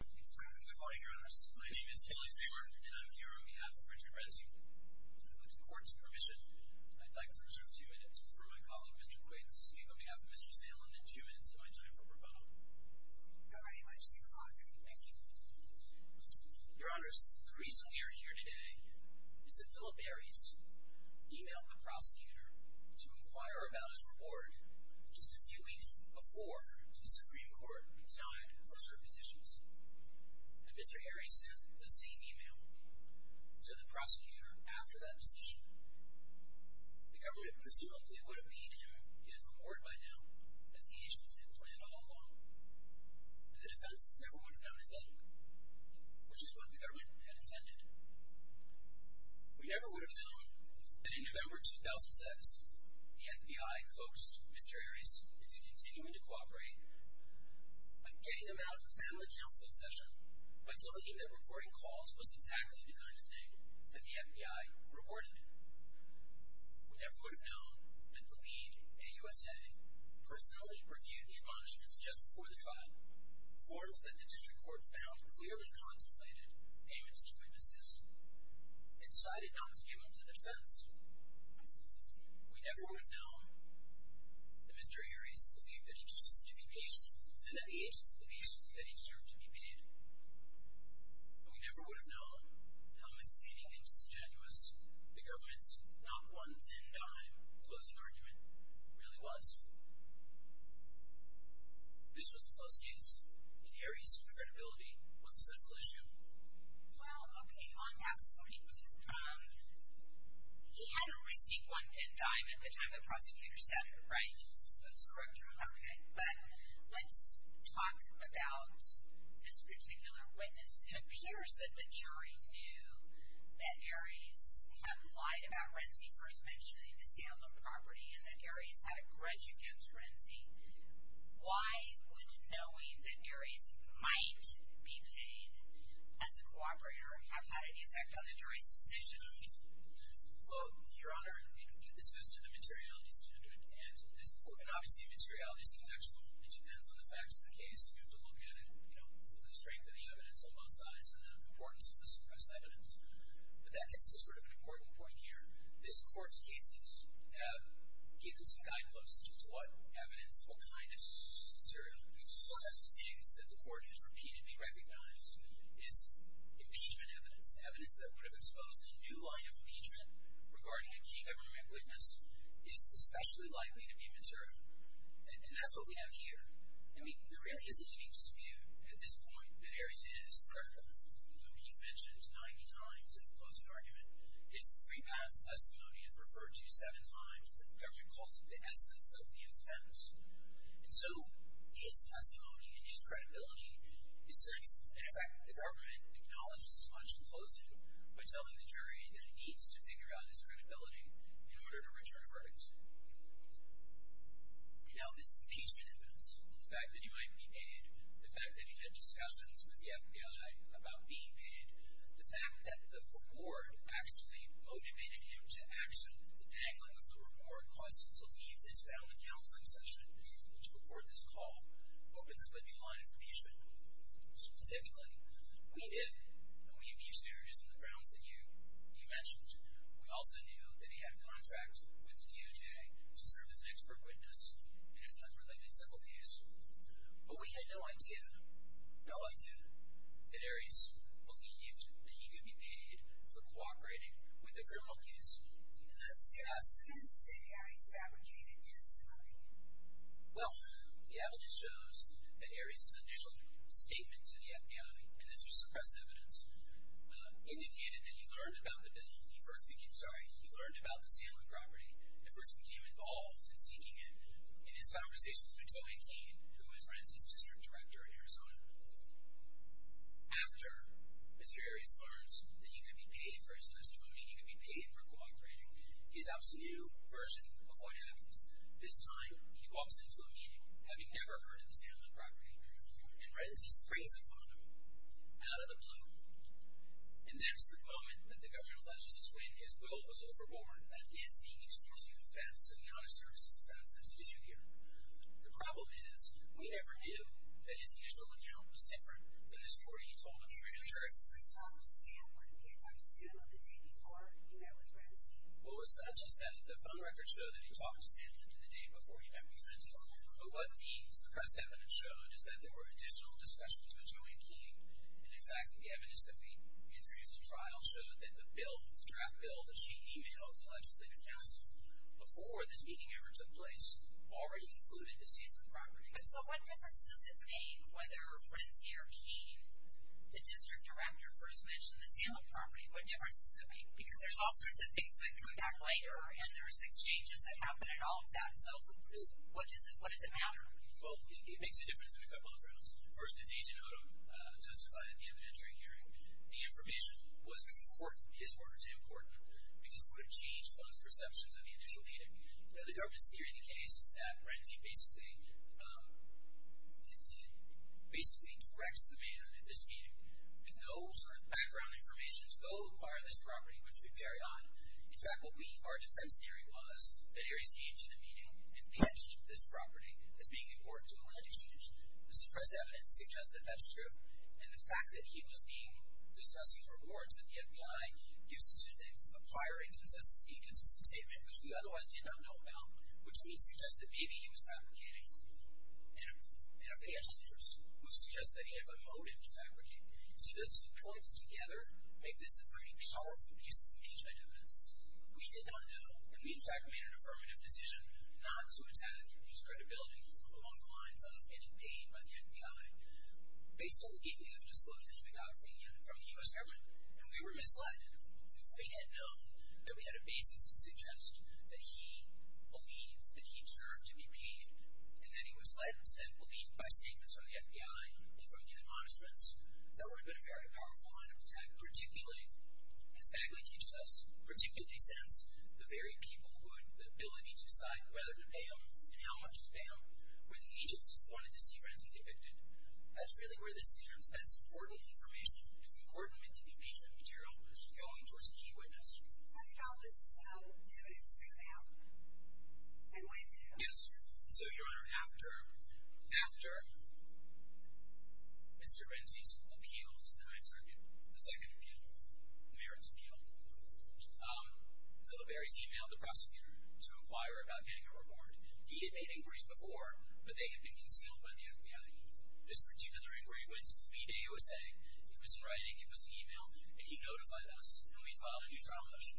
Good morning, your honors. My name is Haley Fremer, and I'm here on behalf of Richard Renzi. With the court's permission, I'd like to reserve two minutes for my colleague, Mr. Quigg, to speak on behalf of Mr. Salen, and two minutes of my time for pro bono. Very much the clock. Thank you. Your honors, the reason we are here today is that Philip Harries emailed the prosecutor to inquire about his reward just a few weeks before the Supreme Court decided to assert petitions. And Mr. Harries sent the same email to the prosecutor after that decision. The government presumably would have paid him his reward by now, as the agency had planned all along. But the defense never would have known a thing, which is what the government had intended. We never would have known that in November 2006, the FBI coaxed Mr. Harries into continuing to cooperate by getting him out of a family counseling session, by telling him that recording calls was exactly the kind of thing that the FBI rewarded him. We never would have known that the lead AUSA personally reviewed the admonishments just before the trial, forms that the district court found clearly contemplated, payments to witnesses, and decided not to give them to the defense. We never would have known that Mr. Harries believed that he deserved to be paid, and that the agency believed that he deserved to be paid. And we never would have known how misleading and disingenuous the government's not-one-thin-dime closing argument really was. This was a close case, and Harries' credibility was a central issue. Well, okay, on that point, he had a receipt one-thin-dime at the time the prosecutor sent it, right? That's correct, Your Honor. Okay, but let's talk about this particular witness. It appears that the jury knew that Harries had lied about Renzi first mentioning the Salem property, and that Harries had a grudge against Renzi. Why would knowing that Harries might be paid as a cooperator have had any effect on the jury's decision? Well, Your Honor, this goes to the materiality standard. And obviously, materiality is contextual. It depends on the facts of the case. You have to look at it for the strength of the evidence on both sides and the importance of the suppressed evidence. But that gets to sort of an important point here. This Court's cases have given some guideposts as to what evidence, what kind of materiality, one of the things that the Court has repeatedly recognized is impeachment evidence, evidence that would have exposed a new line of impeachment regarding a key government witness is especially likely to be mature. And that's what we have here. I mean, there really isn't any dispute at this point that Harries is credible. You know, he's mentioned 90 times in the closing argument. His free pass testimony is referred to seven times. The government calls it the essence of the offense. And so his testimony and his credibility is certain. And, in fact, the government acknowledges his punch in closing by telling the jury that it needs to figure out his credibility in order to return a verdict. Now, this impeachment evidence, the fact that he might be paid, the fact that he had discussions with the FBI about being paid, the fact that the reward actually motivated him to action, the dangling of the reward caused him to leave this family counseling session and to record this call, opens up a new line of impeachment. Specifically, we did. And we impeached Harries on the grounds that you mentioned. We also knew that he had a contract with the DOJ to serve as an expert witness in an unrelated civil case. But we had no idea, no idea, that Harries believed that he could be paid for cooperating with a criminal case. And that's the evidence that Harries fabricated in his testimony. Well, the evidence shows that Harries' initial statement to the FBI, and this was suppressed evidence, indicated that he learned about the bill, he first became, sorry, he learned about the Salem property, and first became involved in seeking it in his conversations with Tobey Keene, who was Ren's district director in Arizona. After Mr. Harries learns that he could be paid for his testimony, he could be paid for cooperating, he adopts a new version of what happens. This time, he walks into a meeting, having never heard of the Salem property, and Ren's disgrace upon him, out of the blue. And that's the moment that the governor alleges that when his will was overborne, that is the issue of facts, the honest services of facts, that's the issue here. The problem is, we never knew that his initial account was different than his story he told on Trigger Tricks. Well, it's not just that the phone records show that he talked to Salem the day before he met with Ren's team, but what the suppressed evidence showed is that there were additional discussions with Joanne Keene, and in fact, the evidence that we introduced at trial showed that the draft bill that she emailed to legislative counsel before this meeting ever took place already included the Salem property. But so what difference does it make whether Ren's heir Keene, the district director, first mentioned the Salem property? What difference does it make? Because there's all sorts of things that come back later, and there's exchanges that happen, and all of that. So what does it matter? Well, it makes a difference in a couple of grounds. First, as Agent Odom justified in the inventory hearing, the information wasn't important, his words weren't important, because it would have changed one's perceptions of the initial meeting. You know, the governance theory of the case is that Ren's team basically directs the man at this meeting, and no sort of background information is going to require this property, which would be very odd. In fact, what we, our defense theory was that Ares came to the meeting and pitched this property as being important to a land exchange. The suppressed evidence suggests that that's true, and the fact that he was discussing rewards with the FBI gives us two things. A prior inconsistent statement, which we otherwise did not know about, which would suggest that maybe he was fabricating in a financial interest. Which suggests that he had a motive to fabricate. See, those two points together make this a pretty powerful piece of impeachment evidence. We did not know, and we in fact made an affirmative decision not to attack his credibility along the lines of getting paid by the FBI. Based on the gating of disclosures we got from the U.S. government, and we were misled. If we had known that we had a basis to suggest that he believed that he served to be paid, and that he was led instead, believed by statements from the FBI and from the admonishments, that would have been a very powerful line of attack. Particularly, as Bagley teaches us, particularly since the very people who had the ability to decide whether to pay him and how much to pay him, were the agents who wanted to see Renzi depicted. That's really where this comes as important information. It's important impeachment material going towards a key witness. How did all this evidence come out, and when did it come out? Yes. So, Your Honor, after Mr. Renzi's appeal to the 9th Circuit, the second appeal, the merits appeal, Littleberry's emailed the prosecutor to inquire about getting a reward. He had made inquiries before, but they had been concealed by the FBI. This particular inquiry went to the lead A.O.S.A. It was in writing, it was in email, and he notified us, and we filed a new trial motion.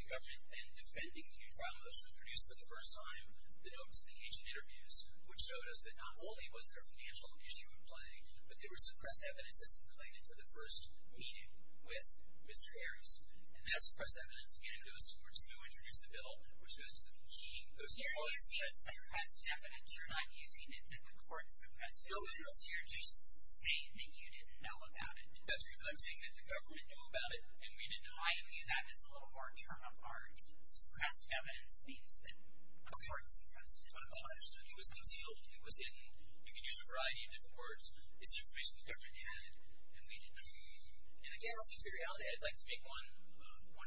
The government, in defending the new trial motion, produced for the first time the notes of the agent interviews, which showed us that not only was there a financial issue at play, but there was suppressed evidence that was included to the first meeting with Mr. Harris. And that suppressed evidence, again, goes towards who introduced the bill, which was the key. So you're using suppressed evidence. You're not using it that the court suppressed it. No, Your Honor. You're just saying that you didn't know about it. That's right. I'm saying that the government knew about it, and we didn't know about it. I view that as a little more term of art. Suppressed evidence means that the court suppressed it. It was concealed, it was hidden. You can use a variety of different words. It's information the government had, and we didn't know. And again, on materiality, I'd like to make one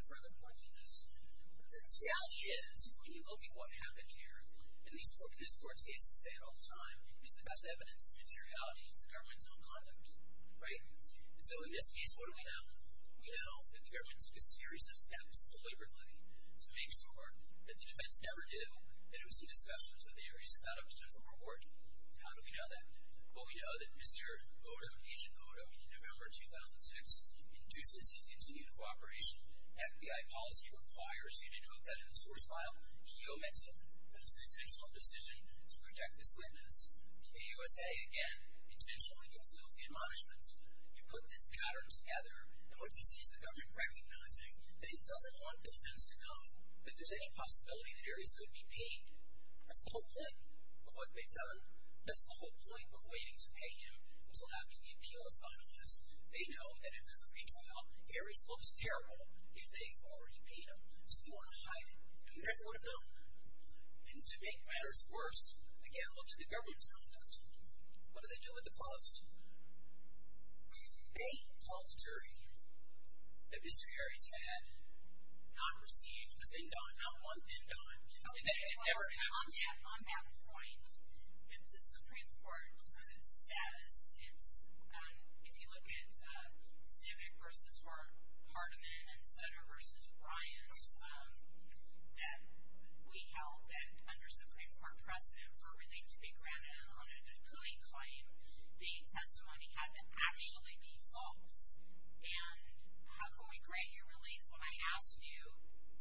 further point on this. The reality is, when you look at what happened here, and these court cases say it all the time, it's the best evidence of materiality is the government's own conduct. Right? And so in this case, what do we know? We know that the government took a series of steps, deliberately, to make sure that the defense never knew that it was a discussion of theories about a particular report. How do we know that? Well, we know that Mr. Odo, Agent Odo, in November 2006, induces his continued cooperation. FBI policy requires you to note that in the source file, he omits it. That it's an intentional decision to protect this witness. The AUSA, again, intentionally conceals the admonishments. You put this pattern together, and what you see is the government recognizing that it doesn't want the defense to know that there's any possibility that Ares could be paid. That's the whole point of what they've done. That's the whole point of waiting to pay him until after the appeal is finalized. They know that if there's a retrial, Ares looks terrible if they've already paid him. So they want to hide him, and we never would have known. And to make matters worse, again, look at the government's conduct. What do they do with the clubs? They told the jury that Mr. Ares had not received a thin don, not one thin don. It never happened. On that point, the Supreme Court says it's, if you look at Civic versus Hartman, and Sutter versus Ryan, that we held that under Supreme Court precedent for relief to be granted on a good-paying claim. The testimony had to actually be false. And how can we grant you relief when I asked you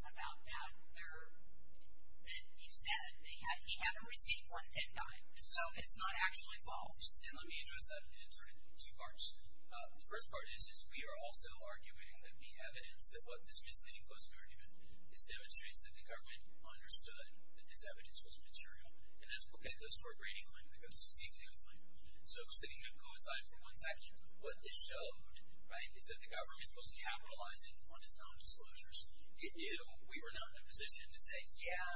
about that? You said he hadn't received one thin don, so it's not actually false. And let me address that in sort of two parts. The first part is we are also arguing that the evidence that this misleading closing argument demonstrates that the government understood that this evidence was material. And this booklet goes to our grading claim. It goes to the executive claim. So sitting at coincide for one second, what this showed, right, is that the government was capitalizing on its own disclosures. It knew we were not in a position to say, yeah,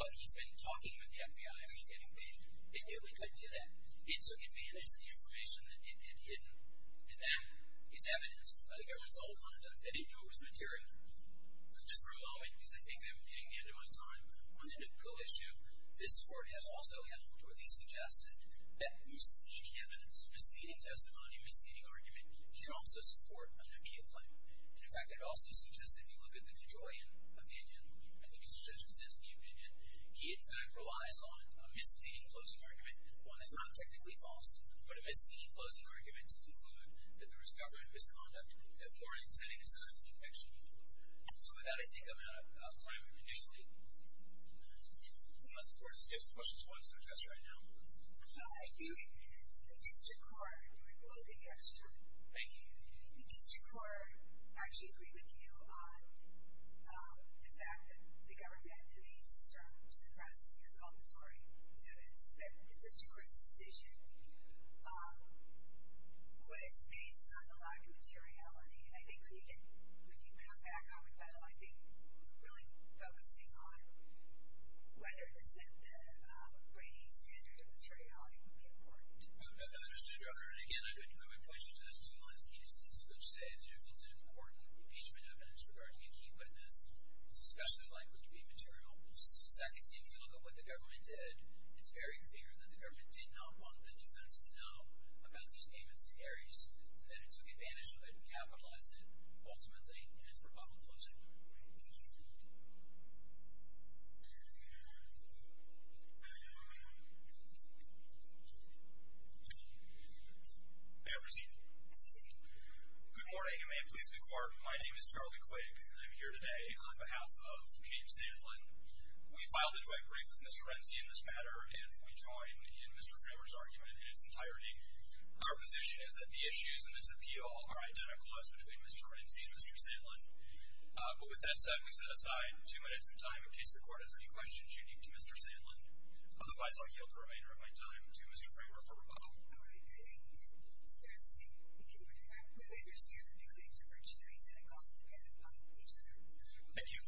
but he's been talking with the FBI, and he's getting paid. It knew we couldn't do that. It took advantage of the information that it had hidden. And that is evidence by the government's old conduct. They didn't know it was material. So just for a moment, because I think I'm hitting the end of my time, on the new bill issue, this Court has also held, or at least suggested, that misleading evidence, misleading testimony, misleading argument, can also support an immediate claim. And, in fact, it also suggests that if you look at the DeJoyian opinion, I think it's a judge-consisting opinion, he, in fact, relies on a misleading closing argument, one that's not technically false, but a misleading closing argument to conclude that there was government misconduct that warranted setting aside protection. So with that, I think I'm out of time. And, initially, unless the Court has different questions, why don't you start, Jess, right now? I think the district court, and we'll give you extra time. Thank you. The district court actually agreed with you on the fact that the government, and he used the term suppressed exculpatory evidence, that the district court's decision was based on a lack of materiality. I think when you get, when you have back our rebuttal, I think really focusing on whether this meant that Brady's standard of materiality would be important. I understand, Your Honor. And, again, I would point you to those two last pieces, which say that if it's an important impeachment evidence regarding a key witness, it's especially likely to be material. Secondly, if you look at what the government did, it's very clear that the government did not want the defense to know about these payments and paries, and that it took advantage of it and capitalized it, ultimately, in its rebuttal closing. May I proceed? Proceed. Good morning, and may it please the Court. My name is Charlie Quig. I'm here today on behalf of James Sandlin. We filed a joint brief with Mr. Renzi in this matter, and we join in Mr. Kramer's argument in its entirety. Our position is that the issues in this appeal are identical, as between Mr. Renzi and Mr. Sandlin. But with that said, we set aside two minutes of time, in case the Court has any questions you need to Mr. Sandlin. Otherwise, I'll yield the remainder of my time to Mr. Kramer for rebuttal. All right. Thank you. It's fascinating. I understand that the claims are virtually identical, depending upon each other. Thank you. Thank you.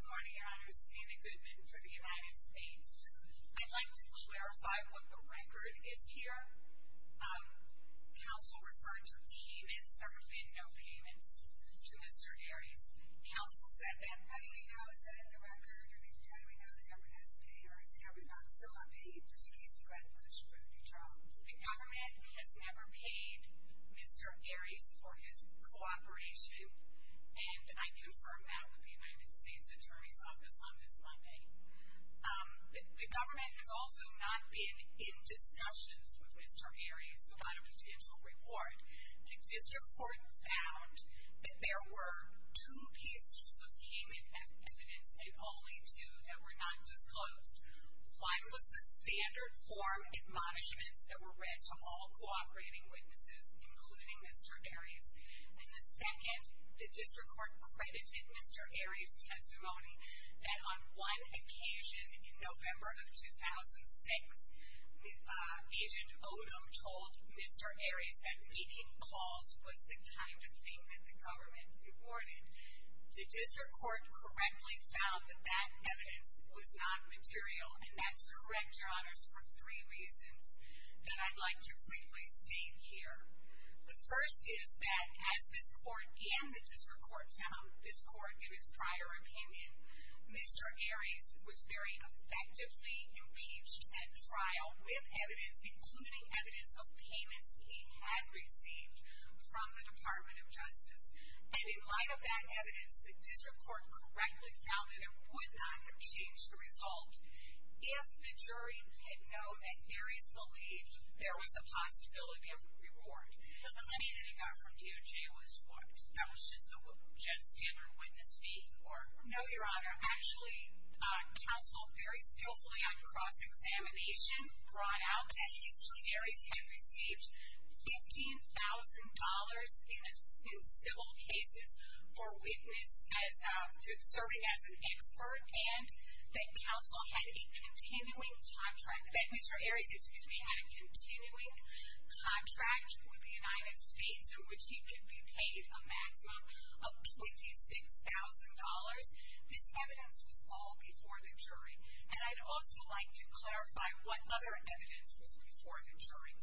Good morning, Your Honors. Anna Goodman for the United States. I'd like to clarify what the record is here. Counsel referred to E and S, there have been no payments to Mr. Aries. Counsel said that. How do we know? Is that in the record? How do we know the government has a pay, or is the government not still on pay? Just in case we go ahead and push for a new trial. The government has never paid Mr. Aries for his cooperation, and I confirmed that with the United States Attorney's Office on this Monday. The government has also not been in discussions with Mr. Aries about a potential report. The district court found that there were two pieces of payment evidence, and only two that were not disclosed. One was the standard form admonishments that were read to all cooperating witnesses, including Mr. Aries. And the second, the district court credited Mr. Aries' testimony that on one occasion, in November of 2006, Agent Odom told Mr. Aries that making calls was the kind of thing that the government reported. The district court correctly found that that evidence was not material, and that's correct, Your Honors, for three reasons that I'd like to quickly state here. The first is that as this court and the district court found this court in its prior opinion, Mr. Aries was very effectively impeached at trial with evidence, including evidence of payments he had received from the Department of Justice. And in light of that evidence, the district court correctly found that it would not have changed the result if the jury had known that Aries believed there was a possibility of a reward. The money that he got from DOJ was what? That was just what Judge Stammer witnessed before? No, Your Honor. Actually, counsel, very skillfully on cross-examination, brought out that Mr. Aries had received $15,000 in civil cases for serving as an expert and that Mr. Aries had a continuing contract with the United States in which he could be paid a maximum of $26,000. This evidence was all before the jury. And I'd also like to clarify what other evidence was before the jury.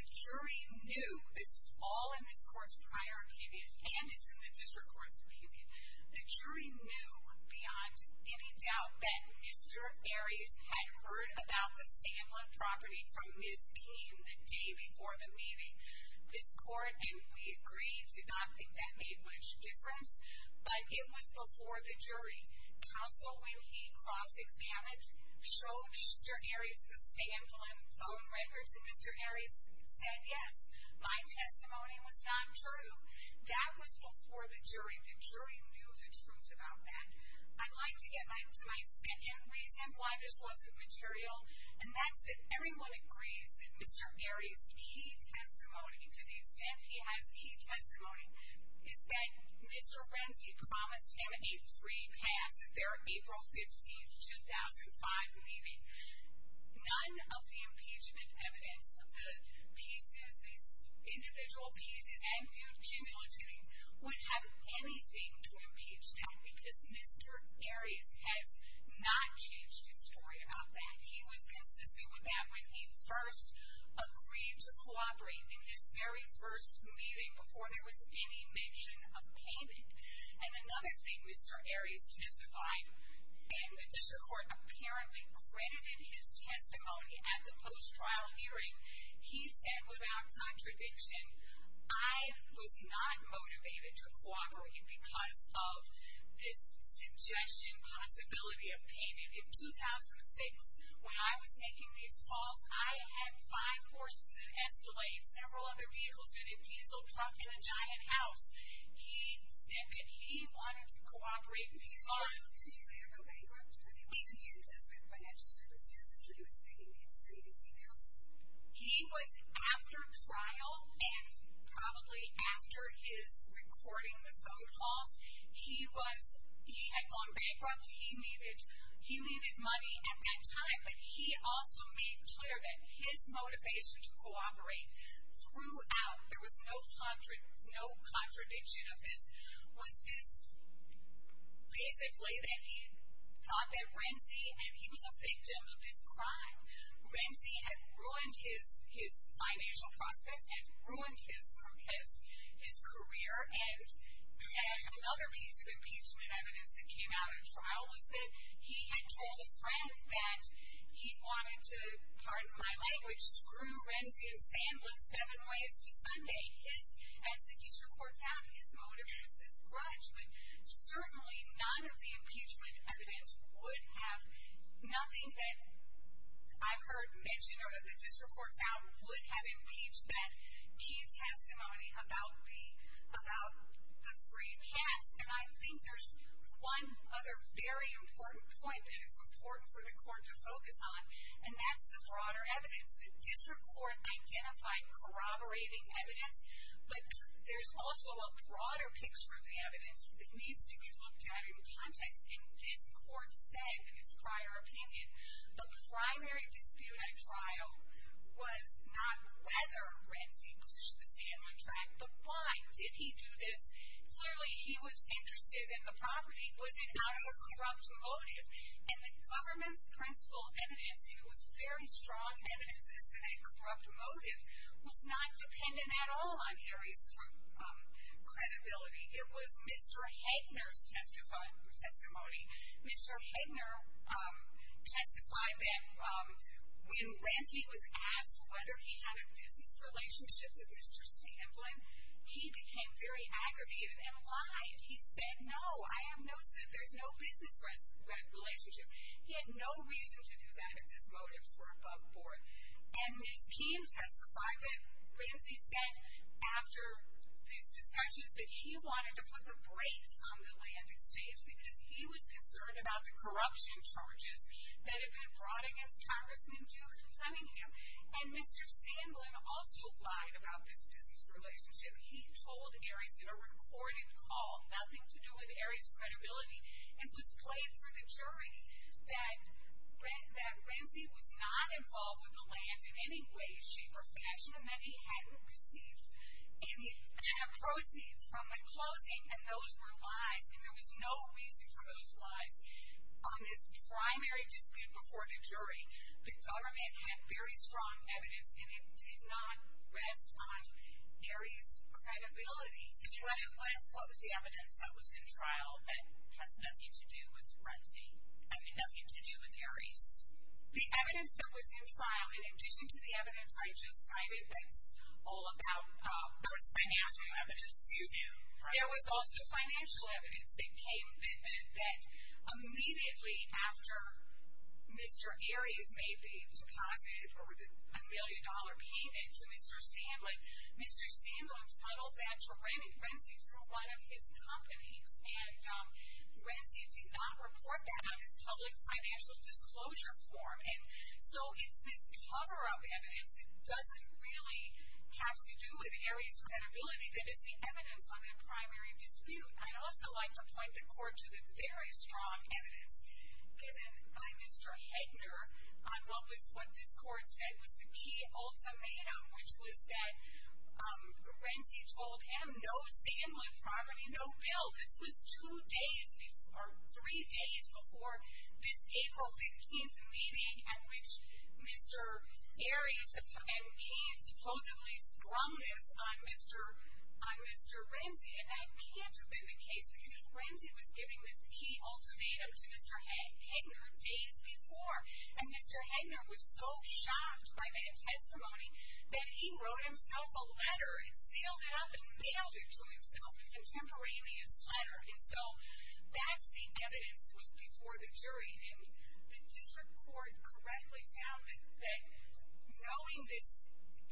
The jury knew this was all in this court's prior opinion, and it's in the district court's opinion. The jury knew beyond any doubt that Mr. Aries had heard about the San Juan property from Ms. Payne the day before the meeting. This court, and we agree, did not think that made much difference, but it was before the jury. Counsel, when he cross-examined, showed Mr. Aries the San Juan phone records, and Mr. Aries said, yes, my testimony was not true. That was before the jury. The jury knew the truth about that. I'd like to get to my second reason why this wasn't material, and that's that everyone agrees that Mr. Aries' key testimony, to the extent he has key testimony, is that Mr. Renzi promised him a free pass at their April 15, 2005 meeting. None of the impeachment evidence, the pieces, the individual pieces, and the accumulating, would have anything to impeach him because Mr. Aries has not changed his story about that. He was consistent with that when he first agreed to cooperate in his very first meeting before there was any mention of Payne. And another thing Mr. Aries testified, and the district court apparently credited his testimony at the post-trial hearing, he said without contradiction, I was not motivated to cooperate because of this suggestion, possibility of Payne. In 2006, when I was making these calls, I had five horses, an Escalade, several other vehicles, and a diesel truck, and a giant house. He said that he wanted to cooperate. Did you later go back over to the meeting and discuss financial circumstances when he was making these emails? He was after trial, and probably after his recording the phone calls, he had gone bankrupt, he needed money at that time, but he also made clear that his motivation to cooperate throughout, there was no contradiction of this, was this basically that he thought that Renzi, and he was a victim of this crime, Renzi had ruined his financial prospects, had ruined his career, and another piece of impeachment evidence that came out at trial was that he had told a friend that he wanted to, pardon my language, screw Renzi and Sandlin seven ways to Sunday. As the district court found his motive was this grudge, but certainly none of the impeachment evidence would have nothing that I've heard mentioned or that the district court found would have impeached that key testimony about the three cats, and I think there's one other very important point that it's important for the court to focus on, and that's the broader evidence. The district court identified corroborating evidence, but there's also a broader picture of the evidence that needs to be looked at in context, and this court said in its prior opinion, the primary dispute at trial was not whether Renzi pushed the Sandlin track, but why did he do this? Clearly, he was interested in the property. Was it not a corrupt motive? And the government's principle evidence, and it was very strong evidence, is that a corrupt motive was not dependent at all on Harry's credibility. It was Mr. Headner's testimony. Mr. Headner testified that when Renzi was asked whether he had a business relationship with Mr. Sandlin, he became very aggravated and lied. He said, no, I have no business relationship. He had no reason to do that if his motives were above board, and his team testified that Renzi said after these discussions that he wanted to put the brakes on the land exchange because he was concerned about the corruption charges that had been brought against Congressman Duke and Flemingham, and Mr. Sandlin also lied about this business relationship. He told Harry's in a recorded call, nothing to do with Harry's credibility, and was playing for the jury that Renzi was not involved with the land in any way, shape, or fashion, and that he hadn't received any kind of proceeds from the closing, and those were lies, and there was no reason for those lies. On this primary dispute before the jury, the government had very strong evidence, and it did not rest on Harry's credibility. So you want to ask what was the evidence that was in trial that has nothing to do with Renzi, I mean nothing to do with Harry's? The evidence that was in trial, in addition to the evidence I just cited that's all about... There was financial evidence, excuse me. There was also financial evidence that came, that immediately after Mr. Aries made the deposit or the $1 million payment to Mr. Sandlin, Mr. Sandlin puttled that to Renzi through one of his companies, and Renzi did not report that on his public financial disclosure form, and so it's this cover-up evidence that doesn't really have to do with Harry's credibility that is the evidence on that primary dispute. I'd also like to point the court to the very strong evidence given by Mr. Hegner on what this court said was the key ultimatum, which was that Renzi told him, no Sandlin property, no bill. This was two days or three days before this April 15th meeting at which Mr. Aries and he supposedly scrummed this on Mr. Renzi, and that can't have been the case because Renzi was giving this key ultimatum to Mr. Hegner days before, and Mr. Hegner was so shocked by that testimony that he wrote himself a letter and sealed it up and mailed it to himself, a contemporaneous letter, and so that's the evidence that was before the jury, and the district court correctly found that knowing this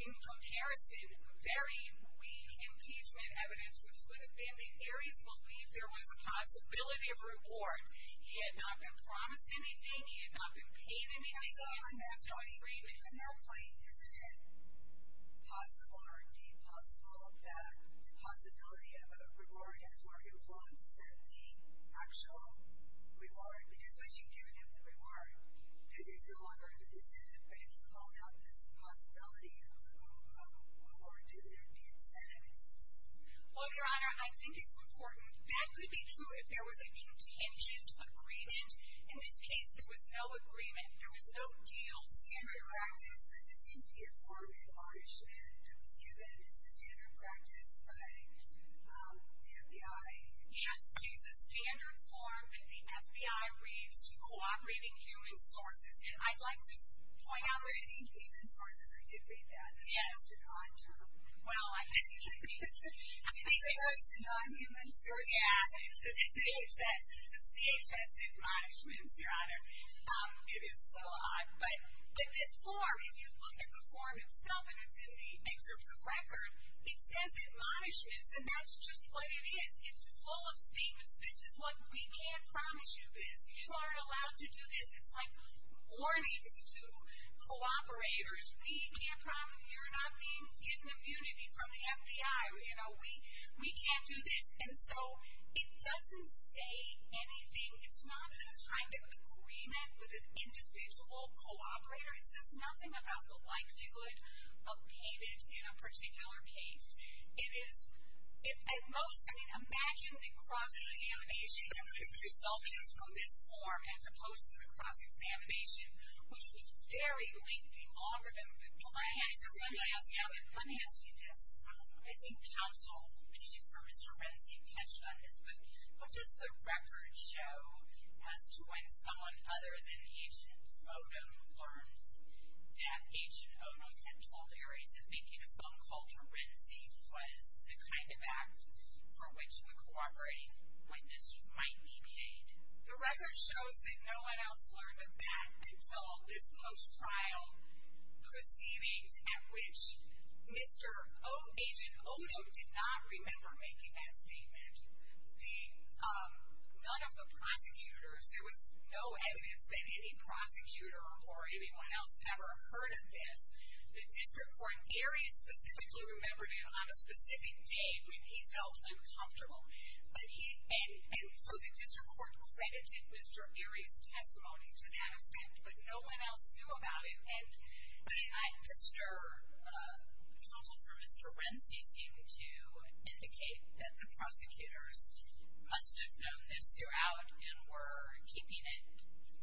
in comparison, very weak impeachment evidence, which would have been that Aries believed there was a possibility of reward. He had not been promised anything. He had not been paid anything. So in that point, isn't it possible or indeed possible that the possibility of a reward has more influence than the actual reward because once you've given him the reward, there's no longer a decisive, but if you call out this possibility of a reward, then the incentive exists. Well, Your Honor, I think it's important. That could be true if there was a contingent agreement. In this case, there was no agreement. There was no deal. Standard practice. It seemed to be a form of admonishment that was given. It's a standard practice by the FBI. Yes. It's a standard form that the FBI reads to cooperating human sources, and I'd like to just point out. Cooperating human sources. I did read that. That's an odd term. Well, I think it is. It's supposed to be non-human sources. Yeah. The CHS. The CHS admonishments, Your Honor. It is so odd. But the form, if you look at the form itself, and it's in the excerpts of record, it says admonishments, and that's just what it is. It's full of statements. This is what we can't promise you this. You aren't allowed to do this. It's like warnings to cooperators. We can't promise you're not getting immunity from the FBI. You know, we can't do this. And so it doesn't say anything. It's not a kind of agreement with an individual cooperator. It says nothing about the likelihood of being in a particular case. It is, at most, I mean, imagine the cross-examination resulting from this form as opposed to the cross-examination, which was very lengthy, longer than the plan. Let me ask you this. I think counsel will leave for Mr. Renzi to touch on this, but does the record show as to when someone other than Agent Odom learned that Agent Odom had told Ares that making a phone call to Renzi was the kind of act for which a cooperating witness might be paid? The record shows that no one else learned of that until this close trial proceedings, at which Agent Odom did not remember making that statement. None of the prosecutors, there was no evidence that any prosecutor or anyone else ever heard of this. The district court, Ares specifically remembered it on a specific date when he felt uncomfortable. And so the district court credited Mr. Ares' testimony to that offense, but no one else knew about it. And counsel for Mr. Renzi seemed to indicate that the prosecutors must have known this throughout and were keeping it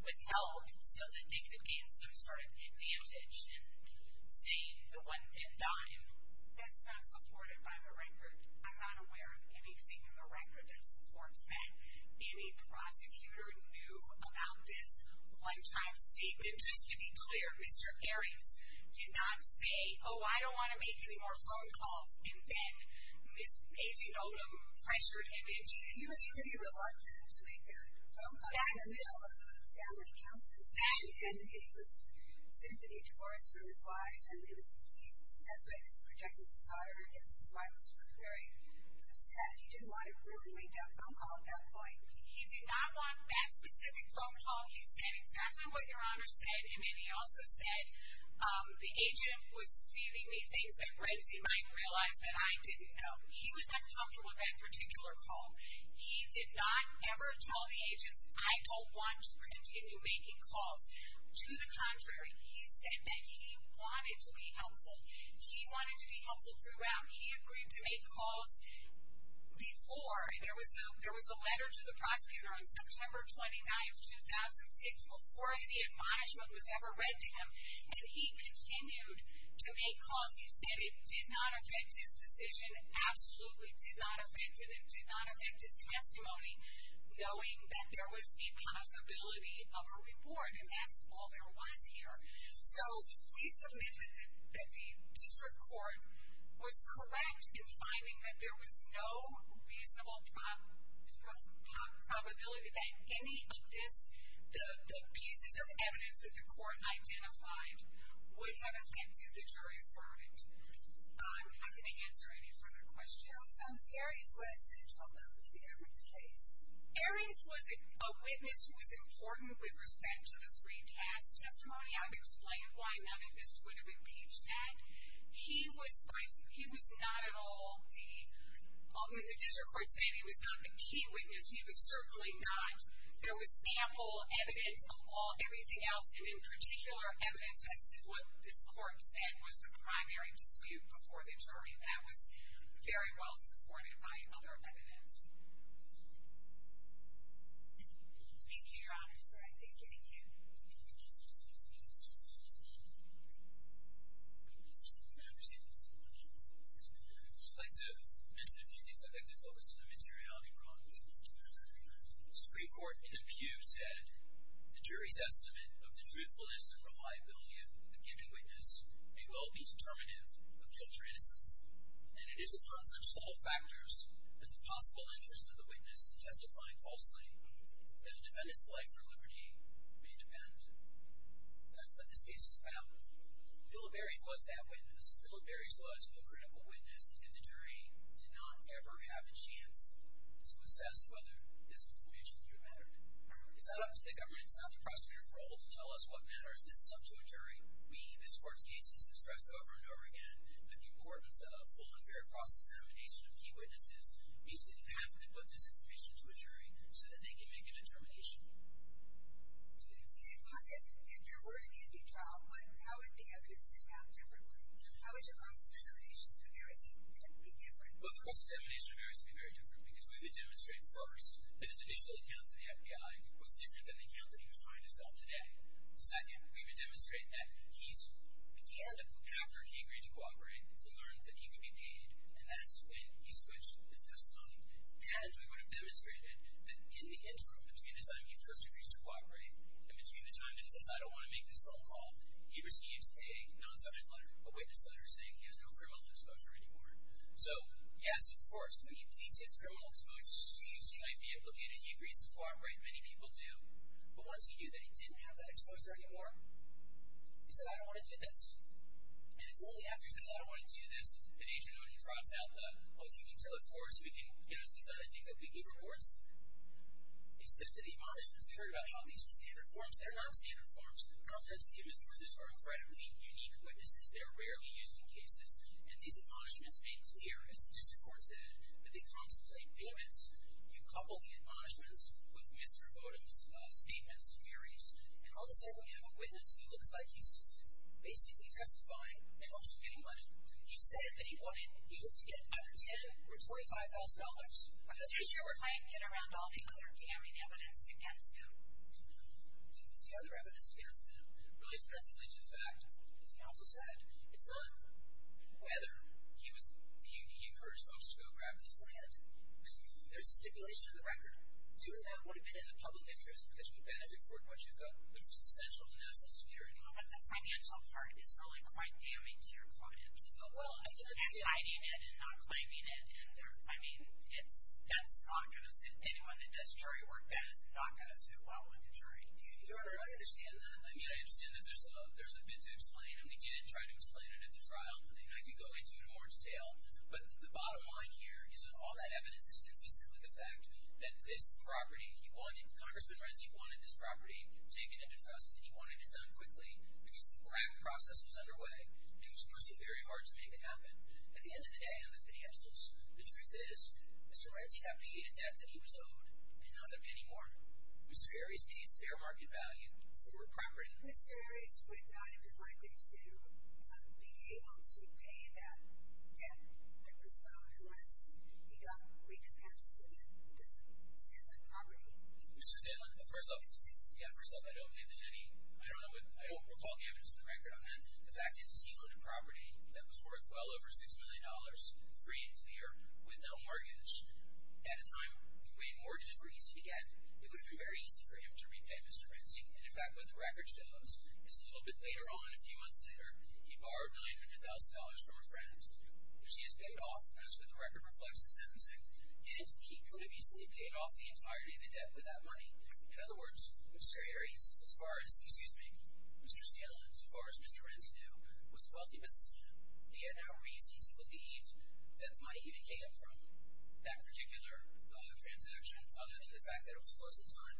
withheld so that they could gain some sort of advantage in saying the one thin dime. That's not supported by the record. I'm not aware of anything in the record that supports that any prosecutor knew about this one-time statement. And just to be clear, Mr. Ares did not say, oh, I don't want to make any more phone calls, and then Agent Odom pressured him into it. He was pretty reluctant to make that phone call. He was in the middle of a family counseling session, and he was soon to be divorced from his wife, and he suggested that he projected his daughter against his wife. He was very upset. He didn't want to really make that phone call at that point. He did not want that specific phone call. He said exactly what Your Honor said, and then he also said, the agent was feeding me things that Renzi might realize that I didn't know. He was uncomfortable with that particular call. He did not ever tell the agents, I don't want to continue making calls. To the contrary, he said that he wanted to be helpful. He wanted to be helpful throughout. He agreed to make calls before. To the contrary, there was a letter to the prosecutor on September 29th, 2006, before the admonishment was ever read to him, and he continued to make calls. He said it did not affect his decision, absolutely did not affect it. It did not affect his testimony, knowing that there was a possibility of a reward, and that's all there was here. So we submit that the district court was correct in finding that there was no reasonable probability that any of this, the pieces of evidence that the court identified, would have affected the jury's verdict. I'm not going to answer any further questions. Aries was a witness who was important with respect to the free pass testimony. I've explained why none of this would have impeached that. He was not at all the, the district court said he was not the key witness. He was certainly not. There was ample evidence of everything else, and in particular evidence that said what this court said was the primary dispute before the jury. That was very well supported by other evidence. Thank you, Your Honor, sir. I thank you. Thank you. I'd like to mention a few things. I'd like to focus on the materiality wrong. The Supreme Court in the pew said, the jury's estimate of the truthfulness and reliability of a given witness may well be determinative of guilt or innocence, and it is upon such subtle factors as the possible interest of the witness in testifying falsely that a defendant's life or liberty may depend. That's what this case is about. Philip Aries was that witness. Philip Aries was a critical witness, and the jury did not ever have a chance to assess whether this information here mattered. It's not up to the government, it's not the prosecutor's role to tell us what matters. This is up to a jury. We, this court's cases, have stressed over and over again that the importance of full and fair cross-examination of key witnesses means that you have to put this information to a jury so that they can make a determination. If there were to be a new trial, how would the evidence sit down differently? How would your cross-examination of Aries be different? Well, the cross-examination of Aries would be very different because we would demonstrate first that his initial account to the FBI was different than the account that he was trying to sell today. Second, we would demonstrate that he began to, after he agreed to cooperate, learn that he could be paid, and that's when he switched his testimony. And we would have demonstrated that in the interim, between the time he first agrees to cooperate and between the time that he says, I don't want to make this phone call, he receives a non-subject letter, a witness letter, saying he has no criminal exposure anymore. So, yes, of course, when he pleads his criminal exposure, he seems he might be implicated. He agrees to cooperate, many people do. But once he knew that he didn't have that exposure anymore, he said, I don't want to do this. And it's only after he says, I don't want to do this, that Agent O'Neill drops out the, oh, if you can tell it for us, we can, you know, see the thing that we give reports. He skipped to the admonishments. We heard about how these were standard forms. They're non-standard forms. Confidential human resources are incredibly unique witnesses. They're rarely used in cases. And these admonishments made clear, as the district court said, that they contemplate payments. You couple the admonishments with Mr. Bowdoin's statements, theories, and all of a sudden we have a witness who looks like he's basically testifying in hopes of getting money. He said that he wanted, he hoped to get either $10,000 or $25,000. I'm not sure if I can get around all the other damning evidence against him. The other evidence against him relates principally to the fact, as counsel said, it's not whether he encouraged folks to go grab this land. There's a stipulation in the record. Doing that would have been in the public interest, because you would have been able to afford what you got, which was essential to national security. But the financial part is really quite damning to your client. Well, I can understand. Exciting it and not claiming it. I mean, that's not going to suit anyone that does jury work. That is not going to suit following a jury. I understand that. I mean, I understand that there's a bit to explain, and we did try to explain it at the trial. I could go into it in more detail. But the bottom line here is that all that evidence is consistently the fact that this property he wanted, Congressman Reznik wanted this property taken into trust and he wanted it done quickly because the black process was underway and it was personally very hard to make it happen. At the end of the day, I'm a financialist. The truth is Mr. Reznik had paid a debt that he was owed and not a penny more. Mr. Arias paid fair market value for property. Mr. Arias would not have been likely to be able to pay that debt that was owed unless he got recompensed with the Zeland property. Mr. Zeland? First off, yeah, first off, I don't believe there's any – I don't recall evidence in the record on that. The fact is he owned a property that was worth well over $6 million free and clear with no mortgage. At a time when mortgages were easy to get, it would have been very easy for him to repay Mr. Reznik and, in fact, what the record shows is a little bit later on, a few months later, he borrowed $900,000 from a friend, which he has paid off, as the record reflects in sentencing, and he could have easily paid off the entirety of the debt with that money. In other words, Mr. Arias, as far as – excuse me, Mr. Zeland, as far as Mr. Reznik knew, was a wealthy businessman. He had no reason to believe that the money even came from that particular transaction other than the fact that it was close in time.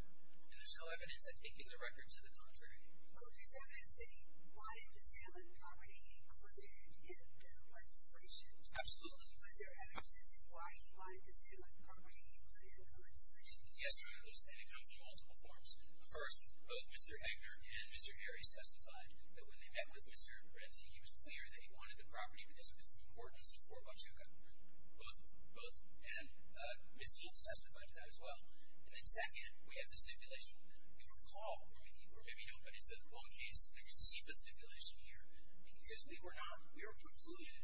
And there's no evidence at anything in the record to the contrary. Was there evidence that he wanted the Zeland property included in the legislation? Absolutely. Was there evidence as to why he wanted the Zeland property included in the legislation? Yes, there is, and it comes in multiple forms. First, both Mr. Eggner and Mr. Arias testified that when they met with Mr. Reznik, he was clear that he wanted the property because of its importance to Fort Huachuca. Both of them. Both. And Ms. Keats testified to that as well. And then second, we have the stipulation. If you recall, or maybe you don't, but it's a long case, there was a SIPA stipulation here. And because we were not – we were precluded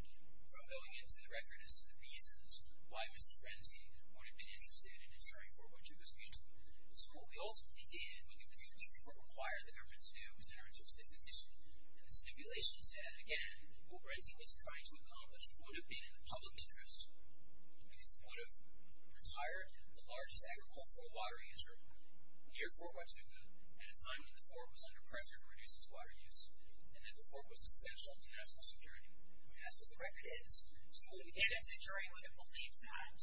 from going into the record as to the reasons why Mr. Reznik would have been interested in insuring Fort Huachuca's future. So what we ultimately did, what the Supreme Court required the government to do, was enter into a stipulation, and the stipulation said, again, what Reznik is trying to accomplish would have been in the public interest. He would have retired the largest agricultural water user near Fort Huachuca at a time when the fort was under pressure to reduce its water use and that the fort was essential to national security. I mean, that's what the record is. So when we get into the jury, we're going to believe that.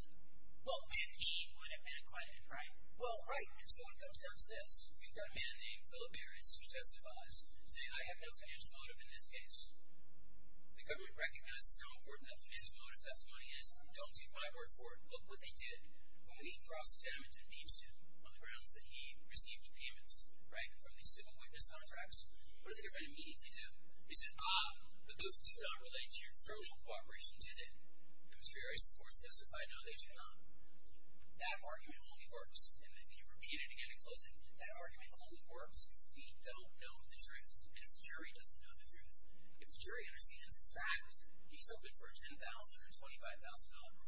Well, when he would have been acquitted, right? Well, right. And so it comes down to this. You've got a man named Philip Arias, who testifies, saying, I have no financial motive in this case. The government recognizes how important that financial motive testimony is. Don't take my word for it. Look what they did when we crossed the dam and impeached him on the grounds that he received payments, right, from the civil witness contracts. What did the government immediately do? They said, ah, but those do not relate to your criminal cooperation, do they? And Mr. Arias, of course, testified, no, they do not. That argument only works, and let me repeat it again in closing, that argument only works if we don't know the truth, and if the jury doesn't know the truth. If the jury understands the fact that he's open for a $10,000 or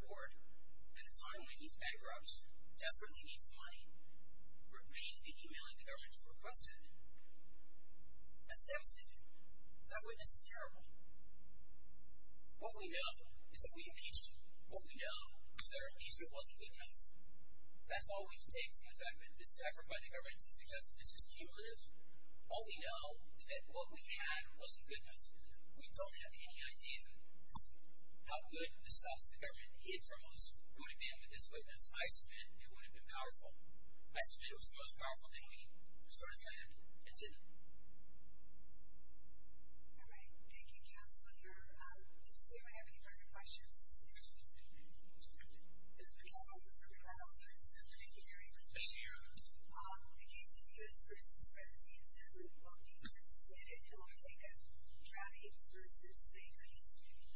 $25,000 reward at a time when he's bankrupt, desperately needs money, repeat the emailing the government has requested. That's devastating. That witness is terrible. What we know is that we impeached him. What we know is that our impeachment wasn't good enough. That's all we can take from the fact that this effort by the government to suggest that this is cumulative. All we know is that what we had wasn't good enough. We don't have any idea how good the stuff the government hid from us would have been with this witness. I submit it would have been powerful. I submit it was the most powerful thing we sort of had and didn't. All right. Thank you, Counselor. I don't see if I have any further questions. If not, I'll turn this over to Gary. Yes, ma'am. In the case of U.S. v. Frenzy, it's a group of people in Sweden who are taken drowning v. Spain recently.